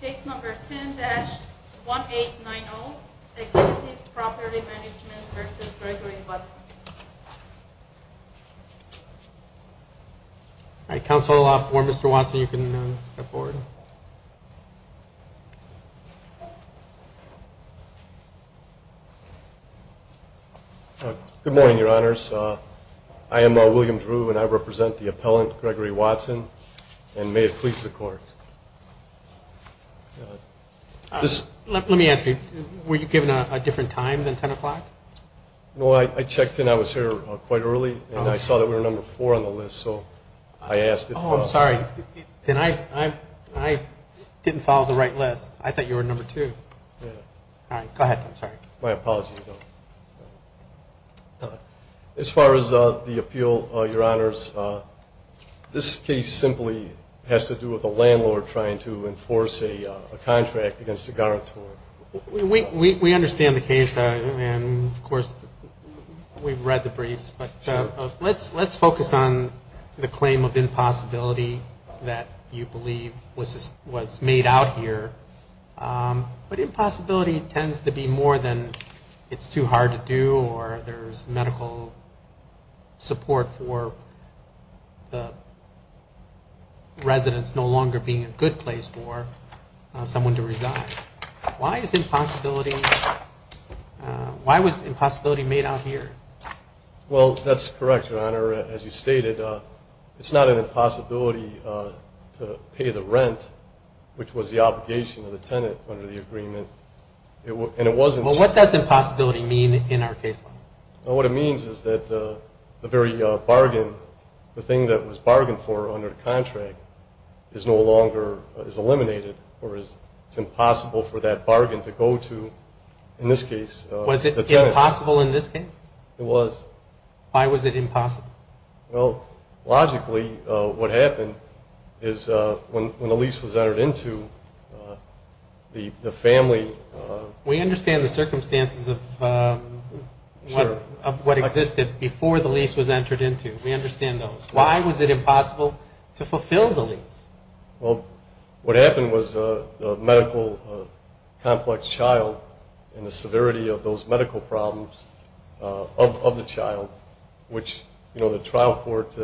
Case number 10-1890 Executive Property Management v. Gregory Watson All right, counsel, if you'll allow for Mr. Watson, you can step forward. I am William Drew, and I represent the appellant, Gregory Watson, and may it please the Court. Let me ask you, were you given a different time than 10 o'clock? No, I checked in. I was here quite early, and I saw that we were number four on the list, so I asked if – Oh, I'm sorry. I didn't follow the right list. I thought you were number two. My apologies, though. As far as the appeal, Your Honors, this case simply has to do with a landlord trying to enforce a contract against a guarantor. We understand the case, and, of course, we've read the briefs, but let's focus on the claim of impossibility that you believe was made out here. But impossibility tends to be more than it's too hard to do or there's medical support for the residents no longer being a good place for someone to reside. Why is impossibility – why was impossibility made out here? Well, that's correct, Your Honor. As you stated, it's not an impossibility to pay the rent, which was the obligation of the tenant under the agreement, and it wasn't – Well, what does impossibility mean in our case? What it means is that the very bargain, the thing that was bargained for under the contract, is no longer – is eliminated, or it's impossible for that bargain to go to, in this case, the tenant. Was it impossible in this case? It was. Why was it impossible? Well, logically, what happened is when the lease was entered into, the family – We understand the circumstances of what existed before the lease was entered into. We understand those. Why was it impossible to fulfill the lease? Well, what happened was the medical complex child and the severity of those medical problems of the child, which, you know, the trial court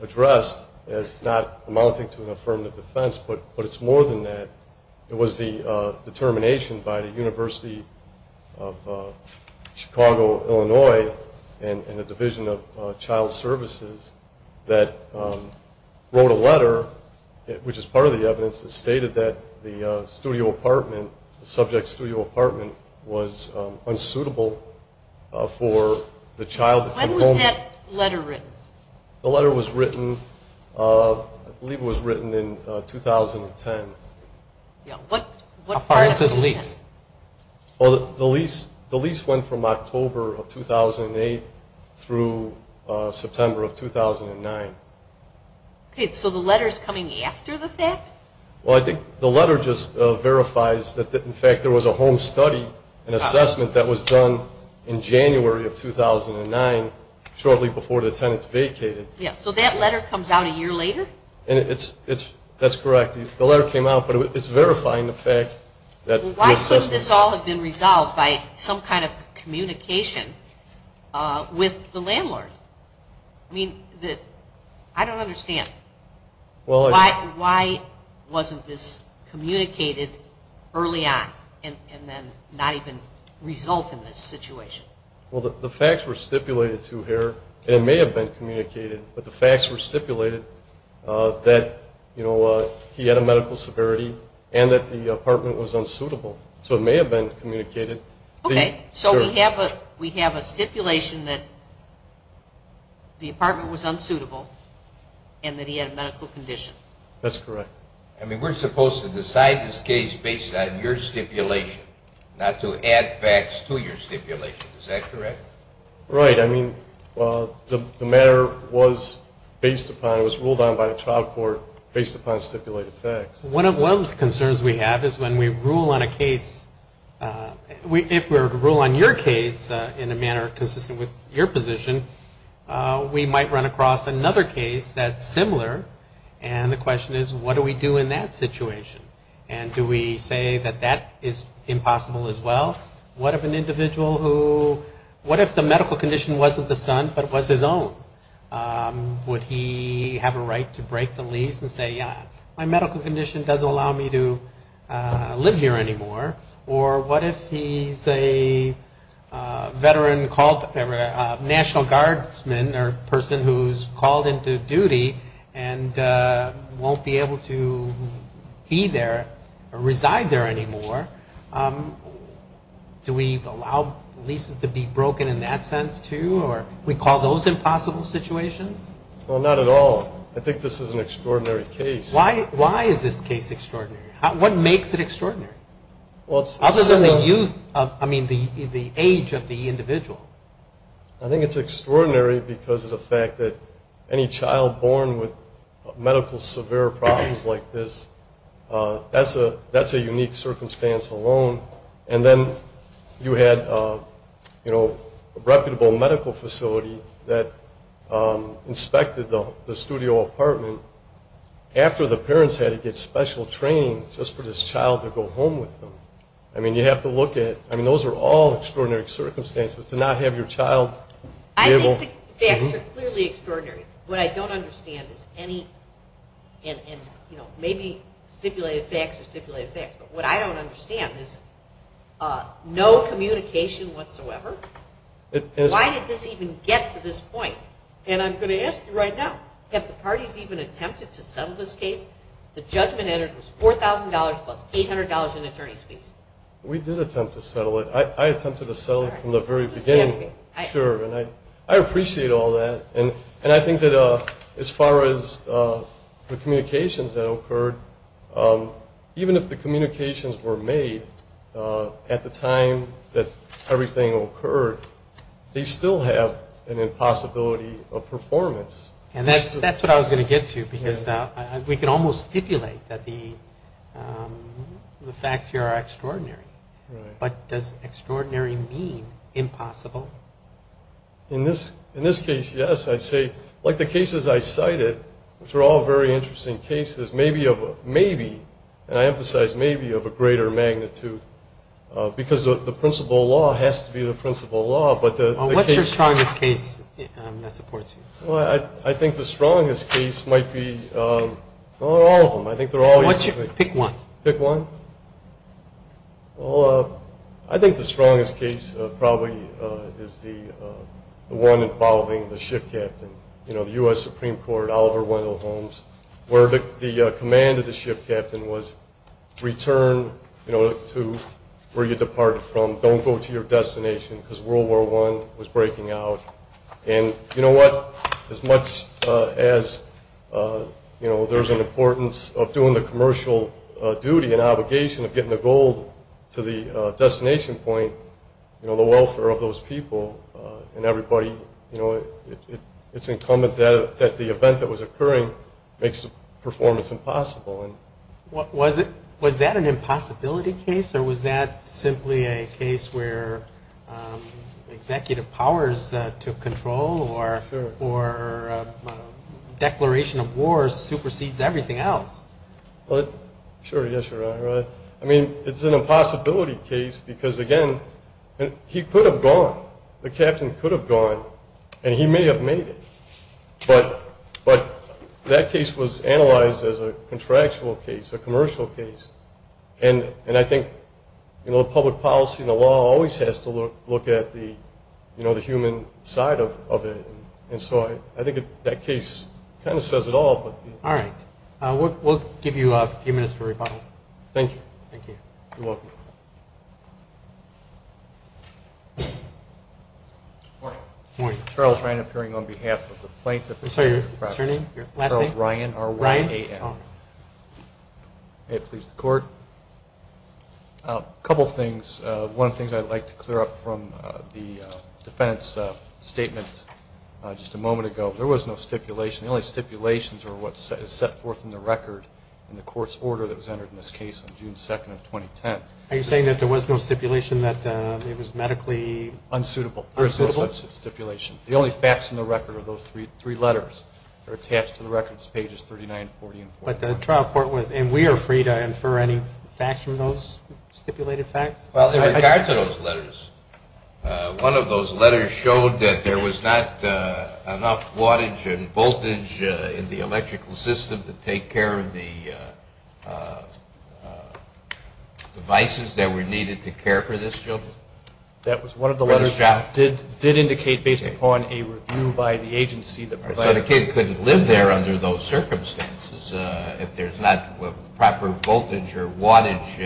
addressed as not amounting to an affirmative defense, but it's more than that. It was the determination by the University of Chicago, Illinois, and the Division of Child Services that wrote a letter, which is part of the evidence, that stated that the studio apartment, the subject's studio apartment, was unsuitable for the child – When was that letter written? The letter was written – I believe it was written in 2010. Yeah. What – How far into the lease? Well, the lease went from October of 2008 through September of 2009. Okay. So the letter's coming after the fact? Well, I think the letter just verifies that, in fact, there was a home study, an assessment that was done in January of 2009, shortly before the tenants vacated. Yeah. So that letter comes out a year later? That's correct. The letter came out, but it's verifying the fact that the assessment – wasn't this communicated early on and then not even result in this situation? Well, the facts were stipulated to here, and it may have been communicated, but the facts were stipulated that, you know, he had a medical severity and that the apartment was unsuitable. So it may have been communicated. Okay. So we have a stipulation that the apartment was unsuitable and that he had a medical condition? That's correct. I mean, we're supposed to decide this case based on your stipulation, not to add facts to your stipulation. Is that correct? Right. I mean, the matter was based upon – it was ruled on by the trial court based upon stipulated facts. One of the concerns we have is when we rule on a case – if we were to rule on your case in a manner consistent with your position, we might run across another case that's similar, and the question is, what do we do in that situation? And do we say that that is impossible as well? What if an individual who – what if the medical condition wasn't the son but was his own? Would he have a right to break the lease and say, yeah, my medical condition doesn't allow me to live here anymore? Or what if he's a veteran called – national guardsman or person who's called into duty and won't be able to be there or reside there anymore? Do we allow leases to be broken in that sense too, or we call those impossible situations? Well, not at all. I think this is an extraordinary case. Why is this case extraordinary? What makes it extraordinary? Well, it's – Other than the youth – I mean, the age of the individual. I think it's extraordinary because of the fact that any child born with medical severe problems like this, that's a unique circumstance alone. And then you had a reputable medical facility that inspected the studio apartment after the parents had to get special training just for this child to go home with them. I mean, you have to look at – I mean, those are all extraordinary circumstances to not have your child be able – I think the facts are clearly extraordinary. What I don't understand is any – and maybe stipulated facts are stipulated facts. But what I don't understand is no communication whatsoever. Why did this even get to this point? And I'm going to ask you right now, have the parties even attempted to settle this case? The judgment entered was $4,000 plus $800 in attorney's fees. We did attempt to settle it. I attempted to settle it from the very beginning, sure. And I appreciate all that. And I think that as far as the communications that occurred, even if the communications were made at the time that everything occurred, they still have an impossibility of performance. And that's what I was going to get to because we can almost stipulate that the facts here are extraordinary. But does extraordinary mean impossible? In this case, yes. I'd say, like the cases I cited, which are all very interesting cases, maybe – and I emphasize maybe – of a greater magnitude because the principal law has to be the principal law. What's your strongest case that supports you? Well, I think the strongest case might be – well, all of them. I think they're all – Pick one. Pick one? Well, I think the strongest case probably is the one involving the ship captain. You know, the U.S. Supreme Court, Oliver Wendell Holmes, where the command of the ship captain was, return to where you departed from. Don't go to your destination because World War I was breaking out. And you know what? As much as, you know, there's an importance of doing the commercial duty and obligation of getting the gold to the destination point, you know, the welfare of those people and everybody, you know, it's incumbent that the event that was occurring makes the performance impossible. Was that an impossibility case? Or was that simply a case where executive powers took control or declaration of war supersedes everything else? Sure. Yes, Your Honor. I mean, it's an impossibility case because, again, he could have gone. The captain could have gone, and he may have made it. But that case was analyzed as a contractual case, a commercial case. And I think, you know, public policy and the law always has to look at the human side of it. And so I think that case kind of says it all. All right. We'll give you a few minutes for rebuttal. Thank you. Thank you. You're welcome. Good morning. Good morning. Charles Ryan appearing on behalf of the plaintiff. I'm sorry, your last name? Charles Ryan, R-Y-A-N. May it please the Court. A couple things. One of the things I'd like to clear up from the defendant's statement just a moment ago, there was no stipulation. The only stipulations are what is set forth in the record in the Court's order that was entered in this case on June 2nd of 2010. Are you saying that there was no stipulation that it was medically unsuitable? There is no such stipulation. The only facts in the record are those three letters that are attached to the records, pages 39, 40, and 41. But the trial court was, and we are free to infer any facts from those stipulated facts? Well, in regard to those letters, one of those letters showed that there was not enough wattage and voltage in the electrical system to take care of the devices that were needed to care for this child. That was one of the letters that did indicate, based upon a review by the agency that provided it. So the kid couldn't live there under those circumstances if there's not proper voltage or wattage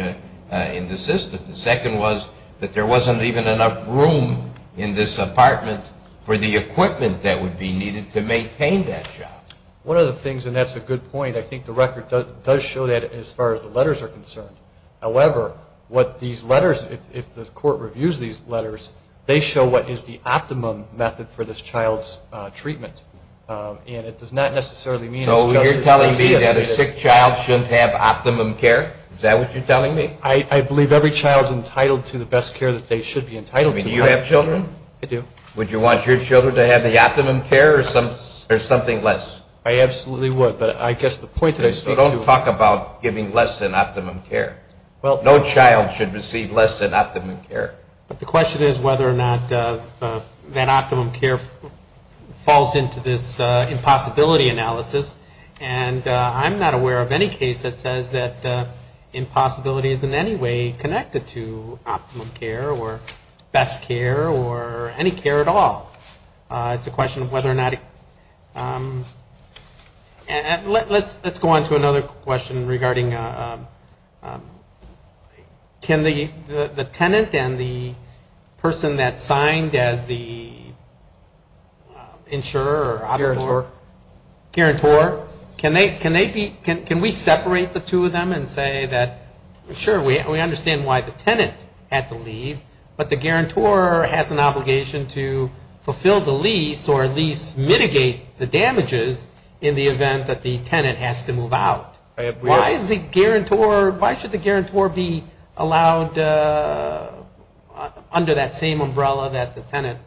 in the system. The second was that there wasn't even enough room in this apartment for the equipment that would be needed to maintain that child. One of the things, and that's a good point, I think the record does show that as far as the letters are concerned. However, what these letters, if the court reviews these letters, they show what is the optimum method for this child's treatment. And it does not necessarily mean it's just a CES method. So you're telling me that a sick child shouldn't have optimum care? Is that what you're telling me? I believe every child is entitled to the best care that they should be entitled to. Do you have children? I do. Would you want your children to have the optimum care or something less? I absolutely would. So don't talk about giving less than optimum care. No child should receive less than optimum care. But the question is whether or not that optimum care falls into this impossibility analysis. And I'm not aware of any case that says that impossibility is in any way connected to optimum care or best care or any care at all. It's a question of whether or not it can. Let's go on to another question regarding can the tenant and the person that signed as the insurer or auditor. Guarantor. Guarantor. Can we separate the two of them and say that, sure, we understand why the tenant had to leave, but the guarantor has an obligation to fulfill the lease or at least mitigate the damages in the event that the tenant has to move out? Why should the guarantor be allowed under that same umbrella that the tenant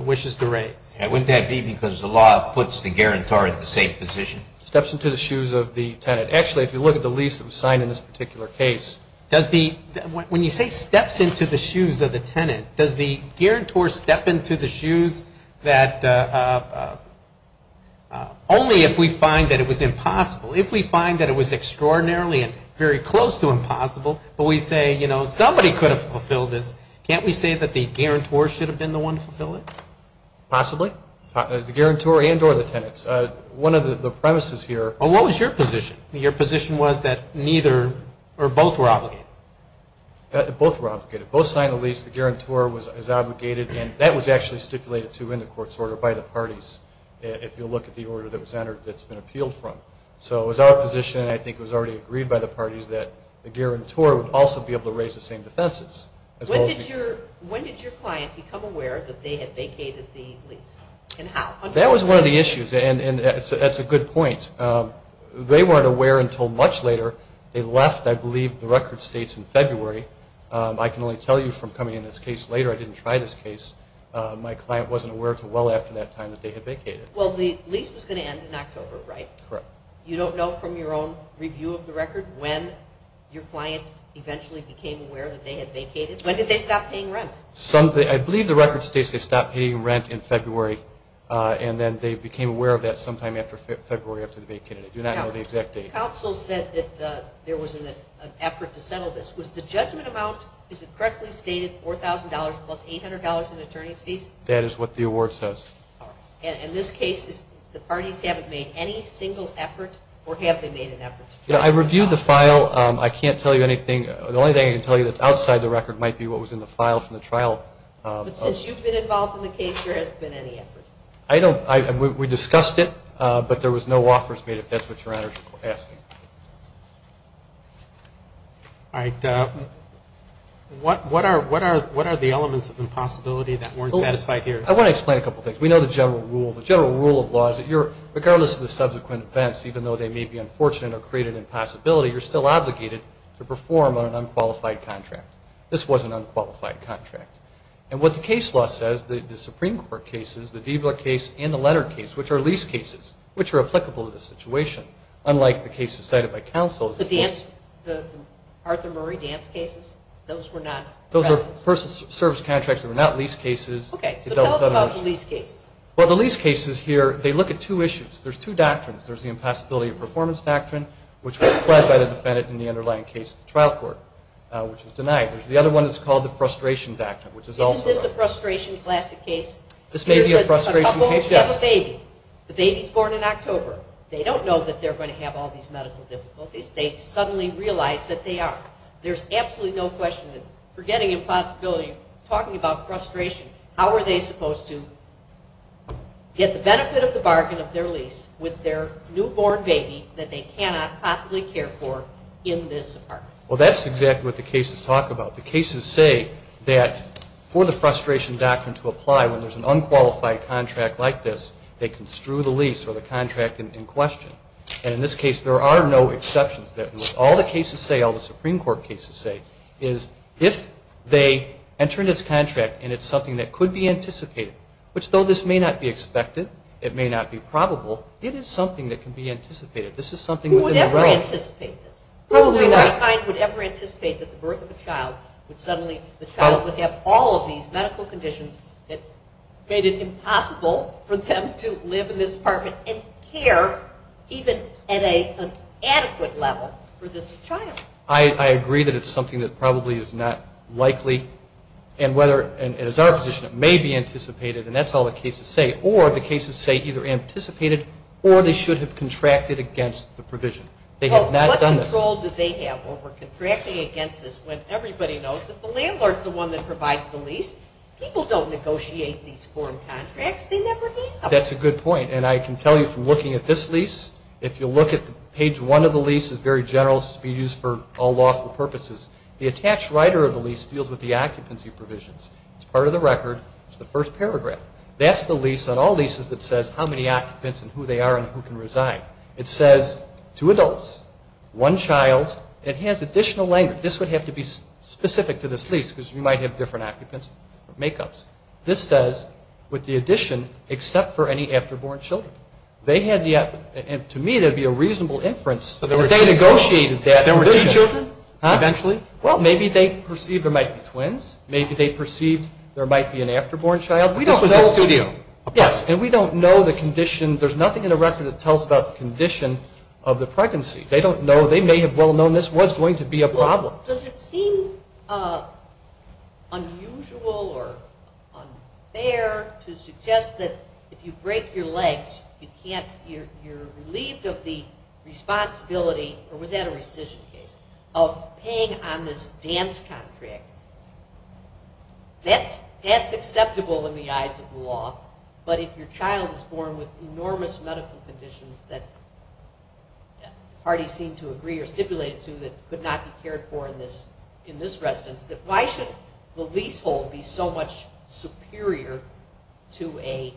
wishes to raise? Wouldn't that be because the law puts the guarantor in the same position? Steps into the shoes of the tenant. Actually, if you look at the lease that was signed in this particular case, when you say steps into the shoes of the tenant, does the guarantor step into the shoes that only if we find that it was impossible, if we find that it was extraordinarily and very close to impossible, but we say, you know, somebody could have fulfilled this, can't we say that the guarantor should have been the one to fulfill it? Possibly. The guarantor and or the tenants. One of the premises here. What was your position? Your position was that neither or both were obligated. Both were obligated. Both signed the lease. The guarantor was obligated, and that was actually stipulated to in the court's order by the parties, if you look at the order that was entered that's been appealed from. So it was our position, and I think it was already agreed by the parties, that the guarantor would also be able to raise the same defenses. When did your client become aware that they had vacated the lease, and how? That was one of the issues, and that's a good point. They weren't aware until much later. They left, I believe, the record states in February. I can only tell you from coming in this case later, I didn't try this case, my client wasn't aware until well after that time that they had vacated. Well, the lease was going to end in October, right? Correct. You don't know from your own review of the record when your client eventually became aware that they had vacated? When did they stop paying rent? I believe the record states they stopped paying rent in February, and then they became aware of that sometime after February after they vacated. I do not know the exact date. The counsel said that there was an effort to settle this. Was the judgment amount, is it correctly stated, $4,000 plus $800 in attorney's fees? That is what the award says. All right. In this case, the parties haven't made any single effort, or have they made an effort? I reviewed the file. I can't tell you anything. The only thing I can tell you that's outside the record might be what was in the file from the trial. But since you've been involved in the case, there hasn't been any effort? We discussed it, but there was no offers made, if that's what Your Honor is asking. All right. What are the elements of impossibility that weren't satisfied here? I want to explain a couple things. We know the general rule. The general rule of law is that regardless of the subsequent events, even though they may be unfortunate or create an impossibility, you're still obligated to perform on an unqualified contract. This was an unqualified contract. And what the case law says, the Supreme Court cases, the Diebler case and the Leonard case, which are lease cases, which are applicable to this situation, unlike the cases cited by counsel. The Arthur Murray dance cases? Those were not? Those were person service contracts. They were not lease cases. Okay. So tell us about the lease cases. Well, the lease cases here, they look at two issues. There's two doctrines. There's the impossibility of performance doctrine, which was classed by the defendant in the underlying case trial court, which was denied. There's the other one that's called the frustration doctrine, which is also. Isn't this a frustration classic case? This may be a frustration case, yes. A couple have a baby. The baby's born in October. They don't know that they're going to have all these medical difficulties. They suddenly realize that they are. There's absolutely no question that forgetting impossibility, talking about frustration, how are they supposed to get the benefit of the bargain of their lease with their newborn baby that they cannot possibly care for in this apartment? Well, that's exactly what the cases talk about. The cases say that for the frustration doctrine to apply, when there's an unqualified contract like this, they can strew the lease or the contract in question. And in this case, there are no exceptions. All the cases say, all the Supreme Court cases say, is if they enter into this contract and it's something that could be anticipated, which though this may not be expected, it may not be probable, it is something that can be anticipated. Who would ever anticipate this? Probably not. Who would ever anticipate that the birth of a child would suddenly, the child would have all of these medical conditions that made it impossible for them to live in this apartment and care even at an adequate level for this child? I agree that it's something that probably is not likely. And whether, and as our position, it may be anticipated. And that's all the cases say. Or the cases say either anticipated or they should have contracted against the provision. They have not done this. What control do they have over contracting against this when everybody knows that the landlord is the one that provides the lease? People don't negotiate these foreign contracts. They never have. That's a good point. And I can tell you from looking at this lease, if you look at page one of the lease, it's very general. It's to be used for all lawful purposes. The attached writer of the lease deals with the occupancy provisions. It's part of the record. It's the first paragraph. That's the lease on all leases that says how many occupants and who they are and who can reside. It says two adults, one child. It has additional language. This would have to be specific to this lease because you might have different occupants or make-ups. This says with the addition, except for any after-born children. They had the, and to me that would be a reasonable inference. But they negotiated that provision. There were two children eventually? Well, maybe they perceived there might be twins. Maybe they perceived there might be an after-born child. This was a studio. Yes, and we don't know the condition. There's nothing in the record that tells about the condition of the pregnancy. They don't know. They may have well known this was going to be a problem. Does it seem unusual or unfair to suggest that if you break your legs, you're relieved of the responsibility, or was that a rescission case, of paying on this dance contract? That's acceptable in the eyes of the law, but if your child is born with enormous medical conditions that parties seem to agree or stipulate it to that could not be cared for in this residence, why should the leasehold be so much superior to a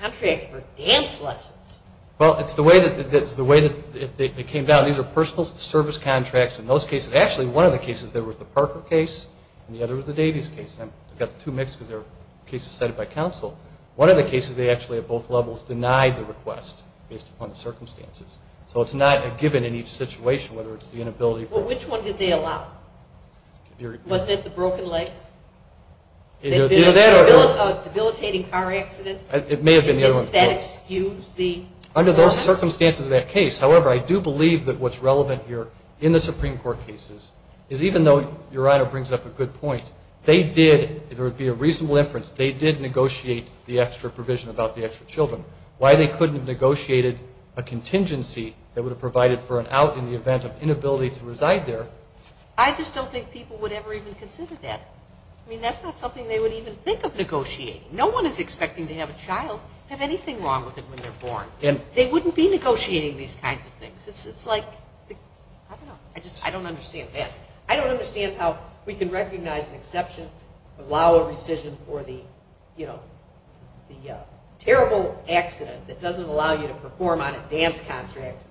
contract for dance lessons? Well, it's the way that they came down. These are personal service contracts in most cases. Actually, one of the cases, there was the Parker case, and the other was the Davies case. I've got the two mixed because they're cases cited by counsel. One of the cases, they actually at both levels denied the request based upon the circumstances. So it's not a given in each situation whether it's the inability for… Well, which one did they allow? Wasn't it the broken legs? The debilitating car accident? It may have been the other one. Did that excuse the… Under those circumstances of that case. However, I do believe that what's relevant here in the Supreme Court cases is even though Your Honor brings up a good point, they did, if there would be a reasonable inference, they did negotiate the extra provision about the extra children. Why they couldn't have negotiated a contingency that would have provided for an out in the event of inability to reside there. I just don't think people would ever even consider that. I mean, that's not something they would even think of negotiating. No one is expecting to have a child have anything wrong with it when they're born. They wouldn't be negotiating these kinds of things. It's like, I don't know, I just don't understand that. I don't understand how we can recognize an exception, allow a rescission for the terrible accident that doesn't allow you to perform on a dance contract,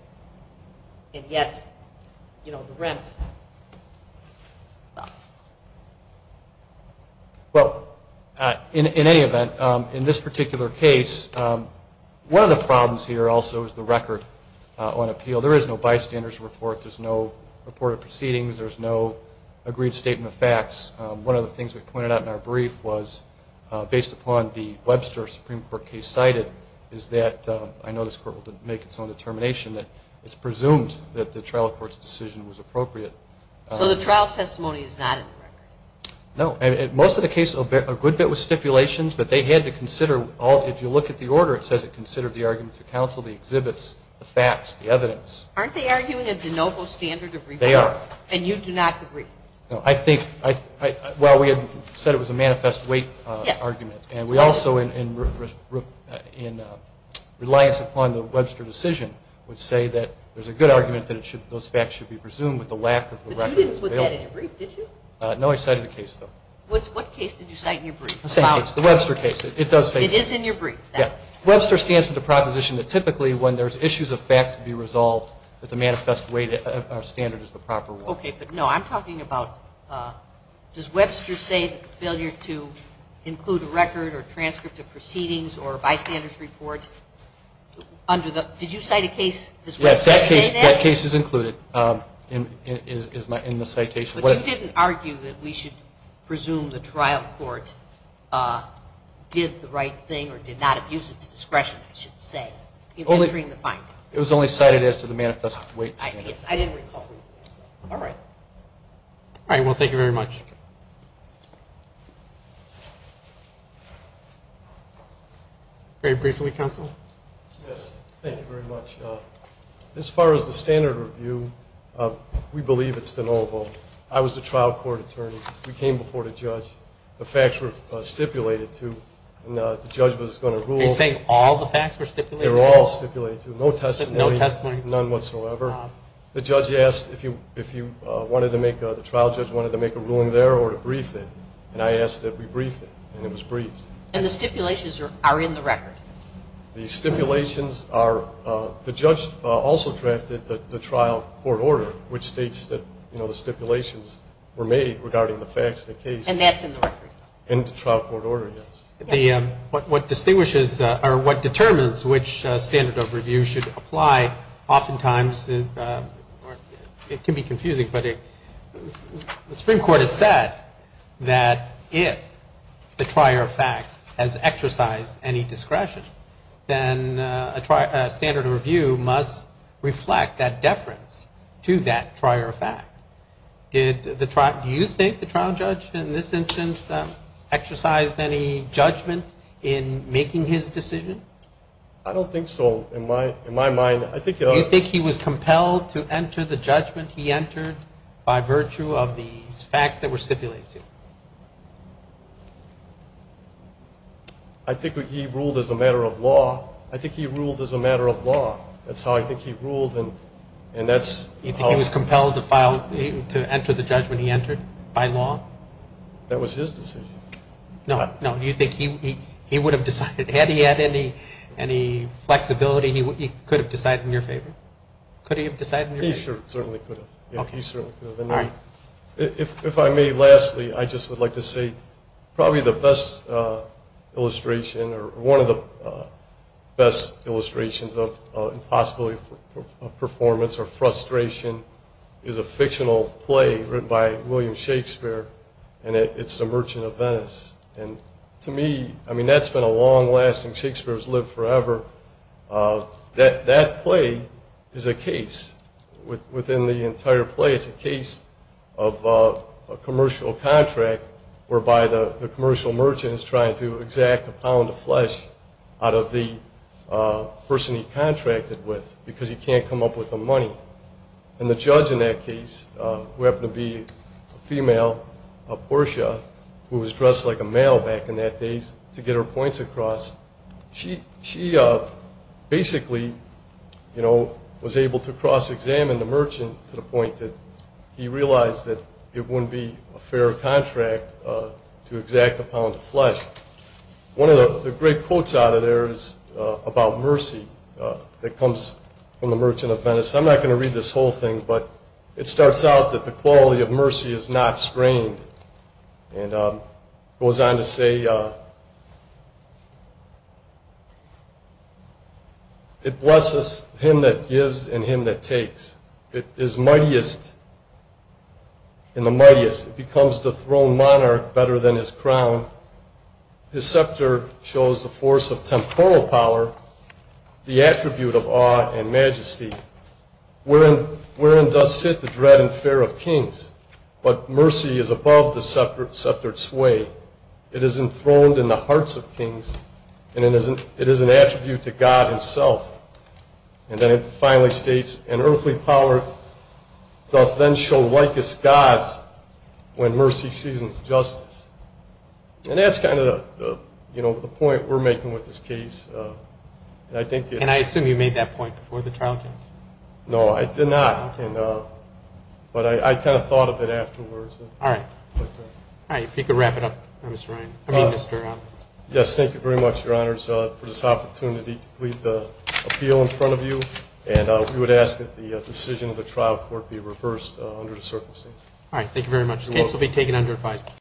and yet the rent. Well, in any event, in this particular case, one of the problems here also is the record on appeal. There is no bystander's report. There's no reported proceedings. There's no agreed statement of facts. One of the things we pointed out in our brief was, based upon the Webster Supreme Court case cited, is that I know this Court will make its own determination that it's presumed that the trial court's decision was appropriate. So the trial testimony is not in the record? No. Most of the cases, a good bit was stipulations, but they had to consider, if you look at the order, it says it considered the arguments of counsel, the exhibits, the facts, the evidence. Aren't they arguing a de novo standard of report? They are. And you do not agree? No. Well, we had said it was a manifest weight argument. Yes. And we also, in reliance upon the Webster decision, would say that there's a good argument that those facts should be presumed with the lack of a record. But you didn't put that in your brief, did you? No, I cited the case, though. What case did you cite in your brief? The Webster case. It does say that. It is in your brief? Yes. Webster stands for the proposition that typically when there's issues of fact to be resolved with a manifest weight, our standard is the proper one. Okay. But, no, I'm talking about, does Webster say failure to include a record or transcript of proceedings or bystander's report under the, did you cite a case, does Webster say that? Yes, that case is included in the citation. But you didn't argue that we should presume the trial court did the right thing or did not abuse its discretion, I should say, in entering the finding. It was only cited as to the manifest weight. Yes, I didn't recall that. All right. All right, well, thank you very much. Very briefly, Counsel. Yes, thank you very much. As far as the standard review, we believe it's de novo. I was the trial court attorney. We came before the judge. The facts were stipulated to, and the judge was going to rule. Are you saying all the facts were stipulated? They were all stipulated to. No testimony? No testimony. None whatsoever. The judge asked if you wanted to make, the trial judge wanted to make a ruling there or to brief it, and I asked that we brief it, and it was briefed. And the stipulations are in the record? The stipulations are, the judge also drafted the trial court order, which states that the stipulations were made regarding the facts of the case. And that's in the record? In the trial court order, yes. What distinguishes or what determines which standard of review should apply oftentimes is, it can be confusing, but the Supreme Court has said that if the trial fact has exercised any discretion, then a standard of review must reflect that deference to that trial fact. Do you think the trial judge in this instance exercised any judgment in making his decision? I don't think so, in my mind. Do you think he was compelled to enter the judgment he entered by virtue of these facts that were stipulated to him? I think he ruled as a matter of law. I think he ruled as a matter of law. That's how I think he ruled, and that's how. Do you think he was compelled to enter the judgment he entered by law? That was his decision. No, no. Do you think he would have decided, had he had any flexibility, he could have decided in your favor? Could he have decided in your favor? He certainly could have. If I may, lastly, I just would like to say probably the best illustration or one of the best illustrations of impossibility of performance or frustration is a fictional play written by William Shakespeare, and it's The Merchant of Venice. To me, that's been a long-lasting, Shakespeare's lived forever. That play is a case. Within the entire play, it's a case of a commercial contract whereby the commercial merchant is trying to exact a pound of flesh out of the person he contracted with because he can't come up with the money. The judge in that case, who happened to be a female, Portia, who was dressed like a male back in that days, to get her points across, she basically was able to cross-examine the merchant to the point that he realized that it wouldn't be a fair contract to exact a pound of flesh. One of the great quotes out of there is about mercy that comes from The Merchant of Venice. I'm not going to read this whole thing, but it starts out that the quality of mercy is not strained and goes on to say, it blesses him that gives and him that takes. It is mightiest in the mightiest. It becomes the throne monarch better than his crown. His scepter shows the force of temporal power, the attribute of awe and majesty. Wherein does sit the dread and fear of kings, but mercy is above the sceptered sway. It is enthroned in the hearts of kings and it is an attribute to God himself. And then it finally states, an earthly power doth then show like as gods when mercy seasons justice. And that's kind of the point we're making with this case. And I assume you made that point before the trial. No, I did not. But I kind of thought of it afterwards. All right. All right. If you could wrap it up, Mr. Ryan. Yes. Thank you very much, your honors, for this opportunity to plead the appeal in front of you. And we would ask that the decision of the trial court be reversed under the circumstances. All right. Thank you very much. The case will be taken under five.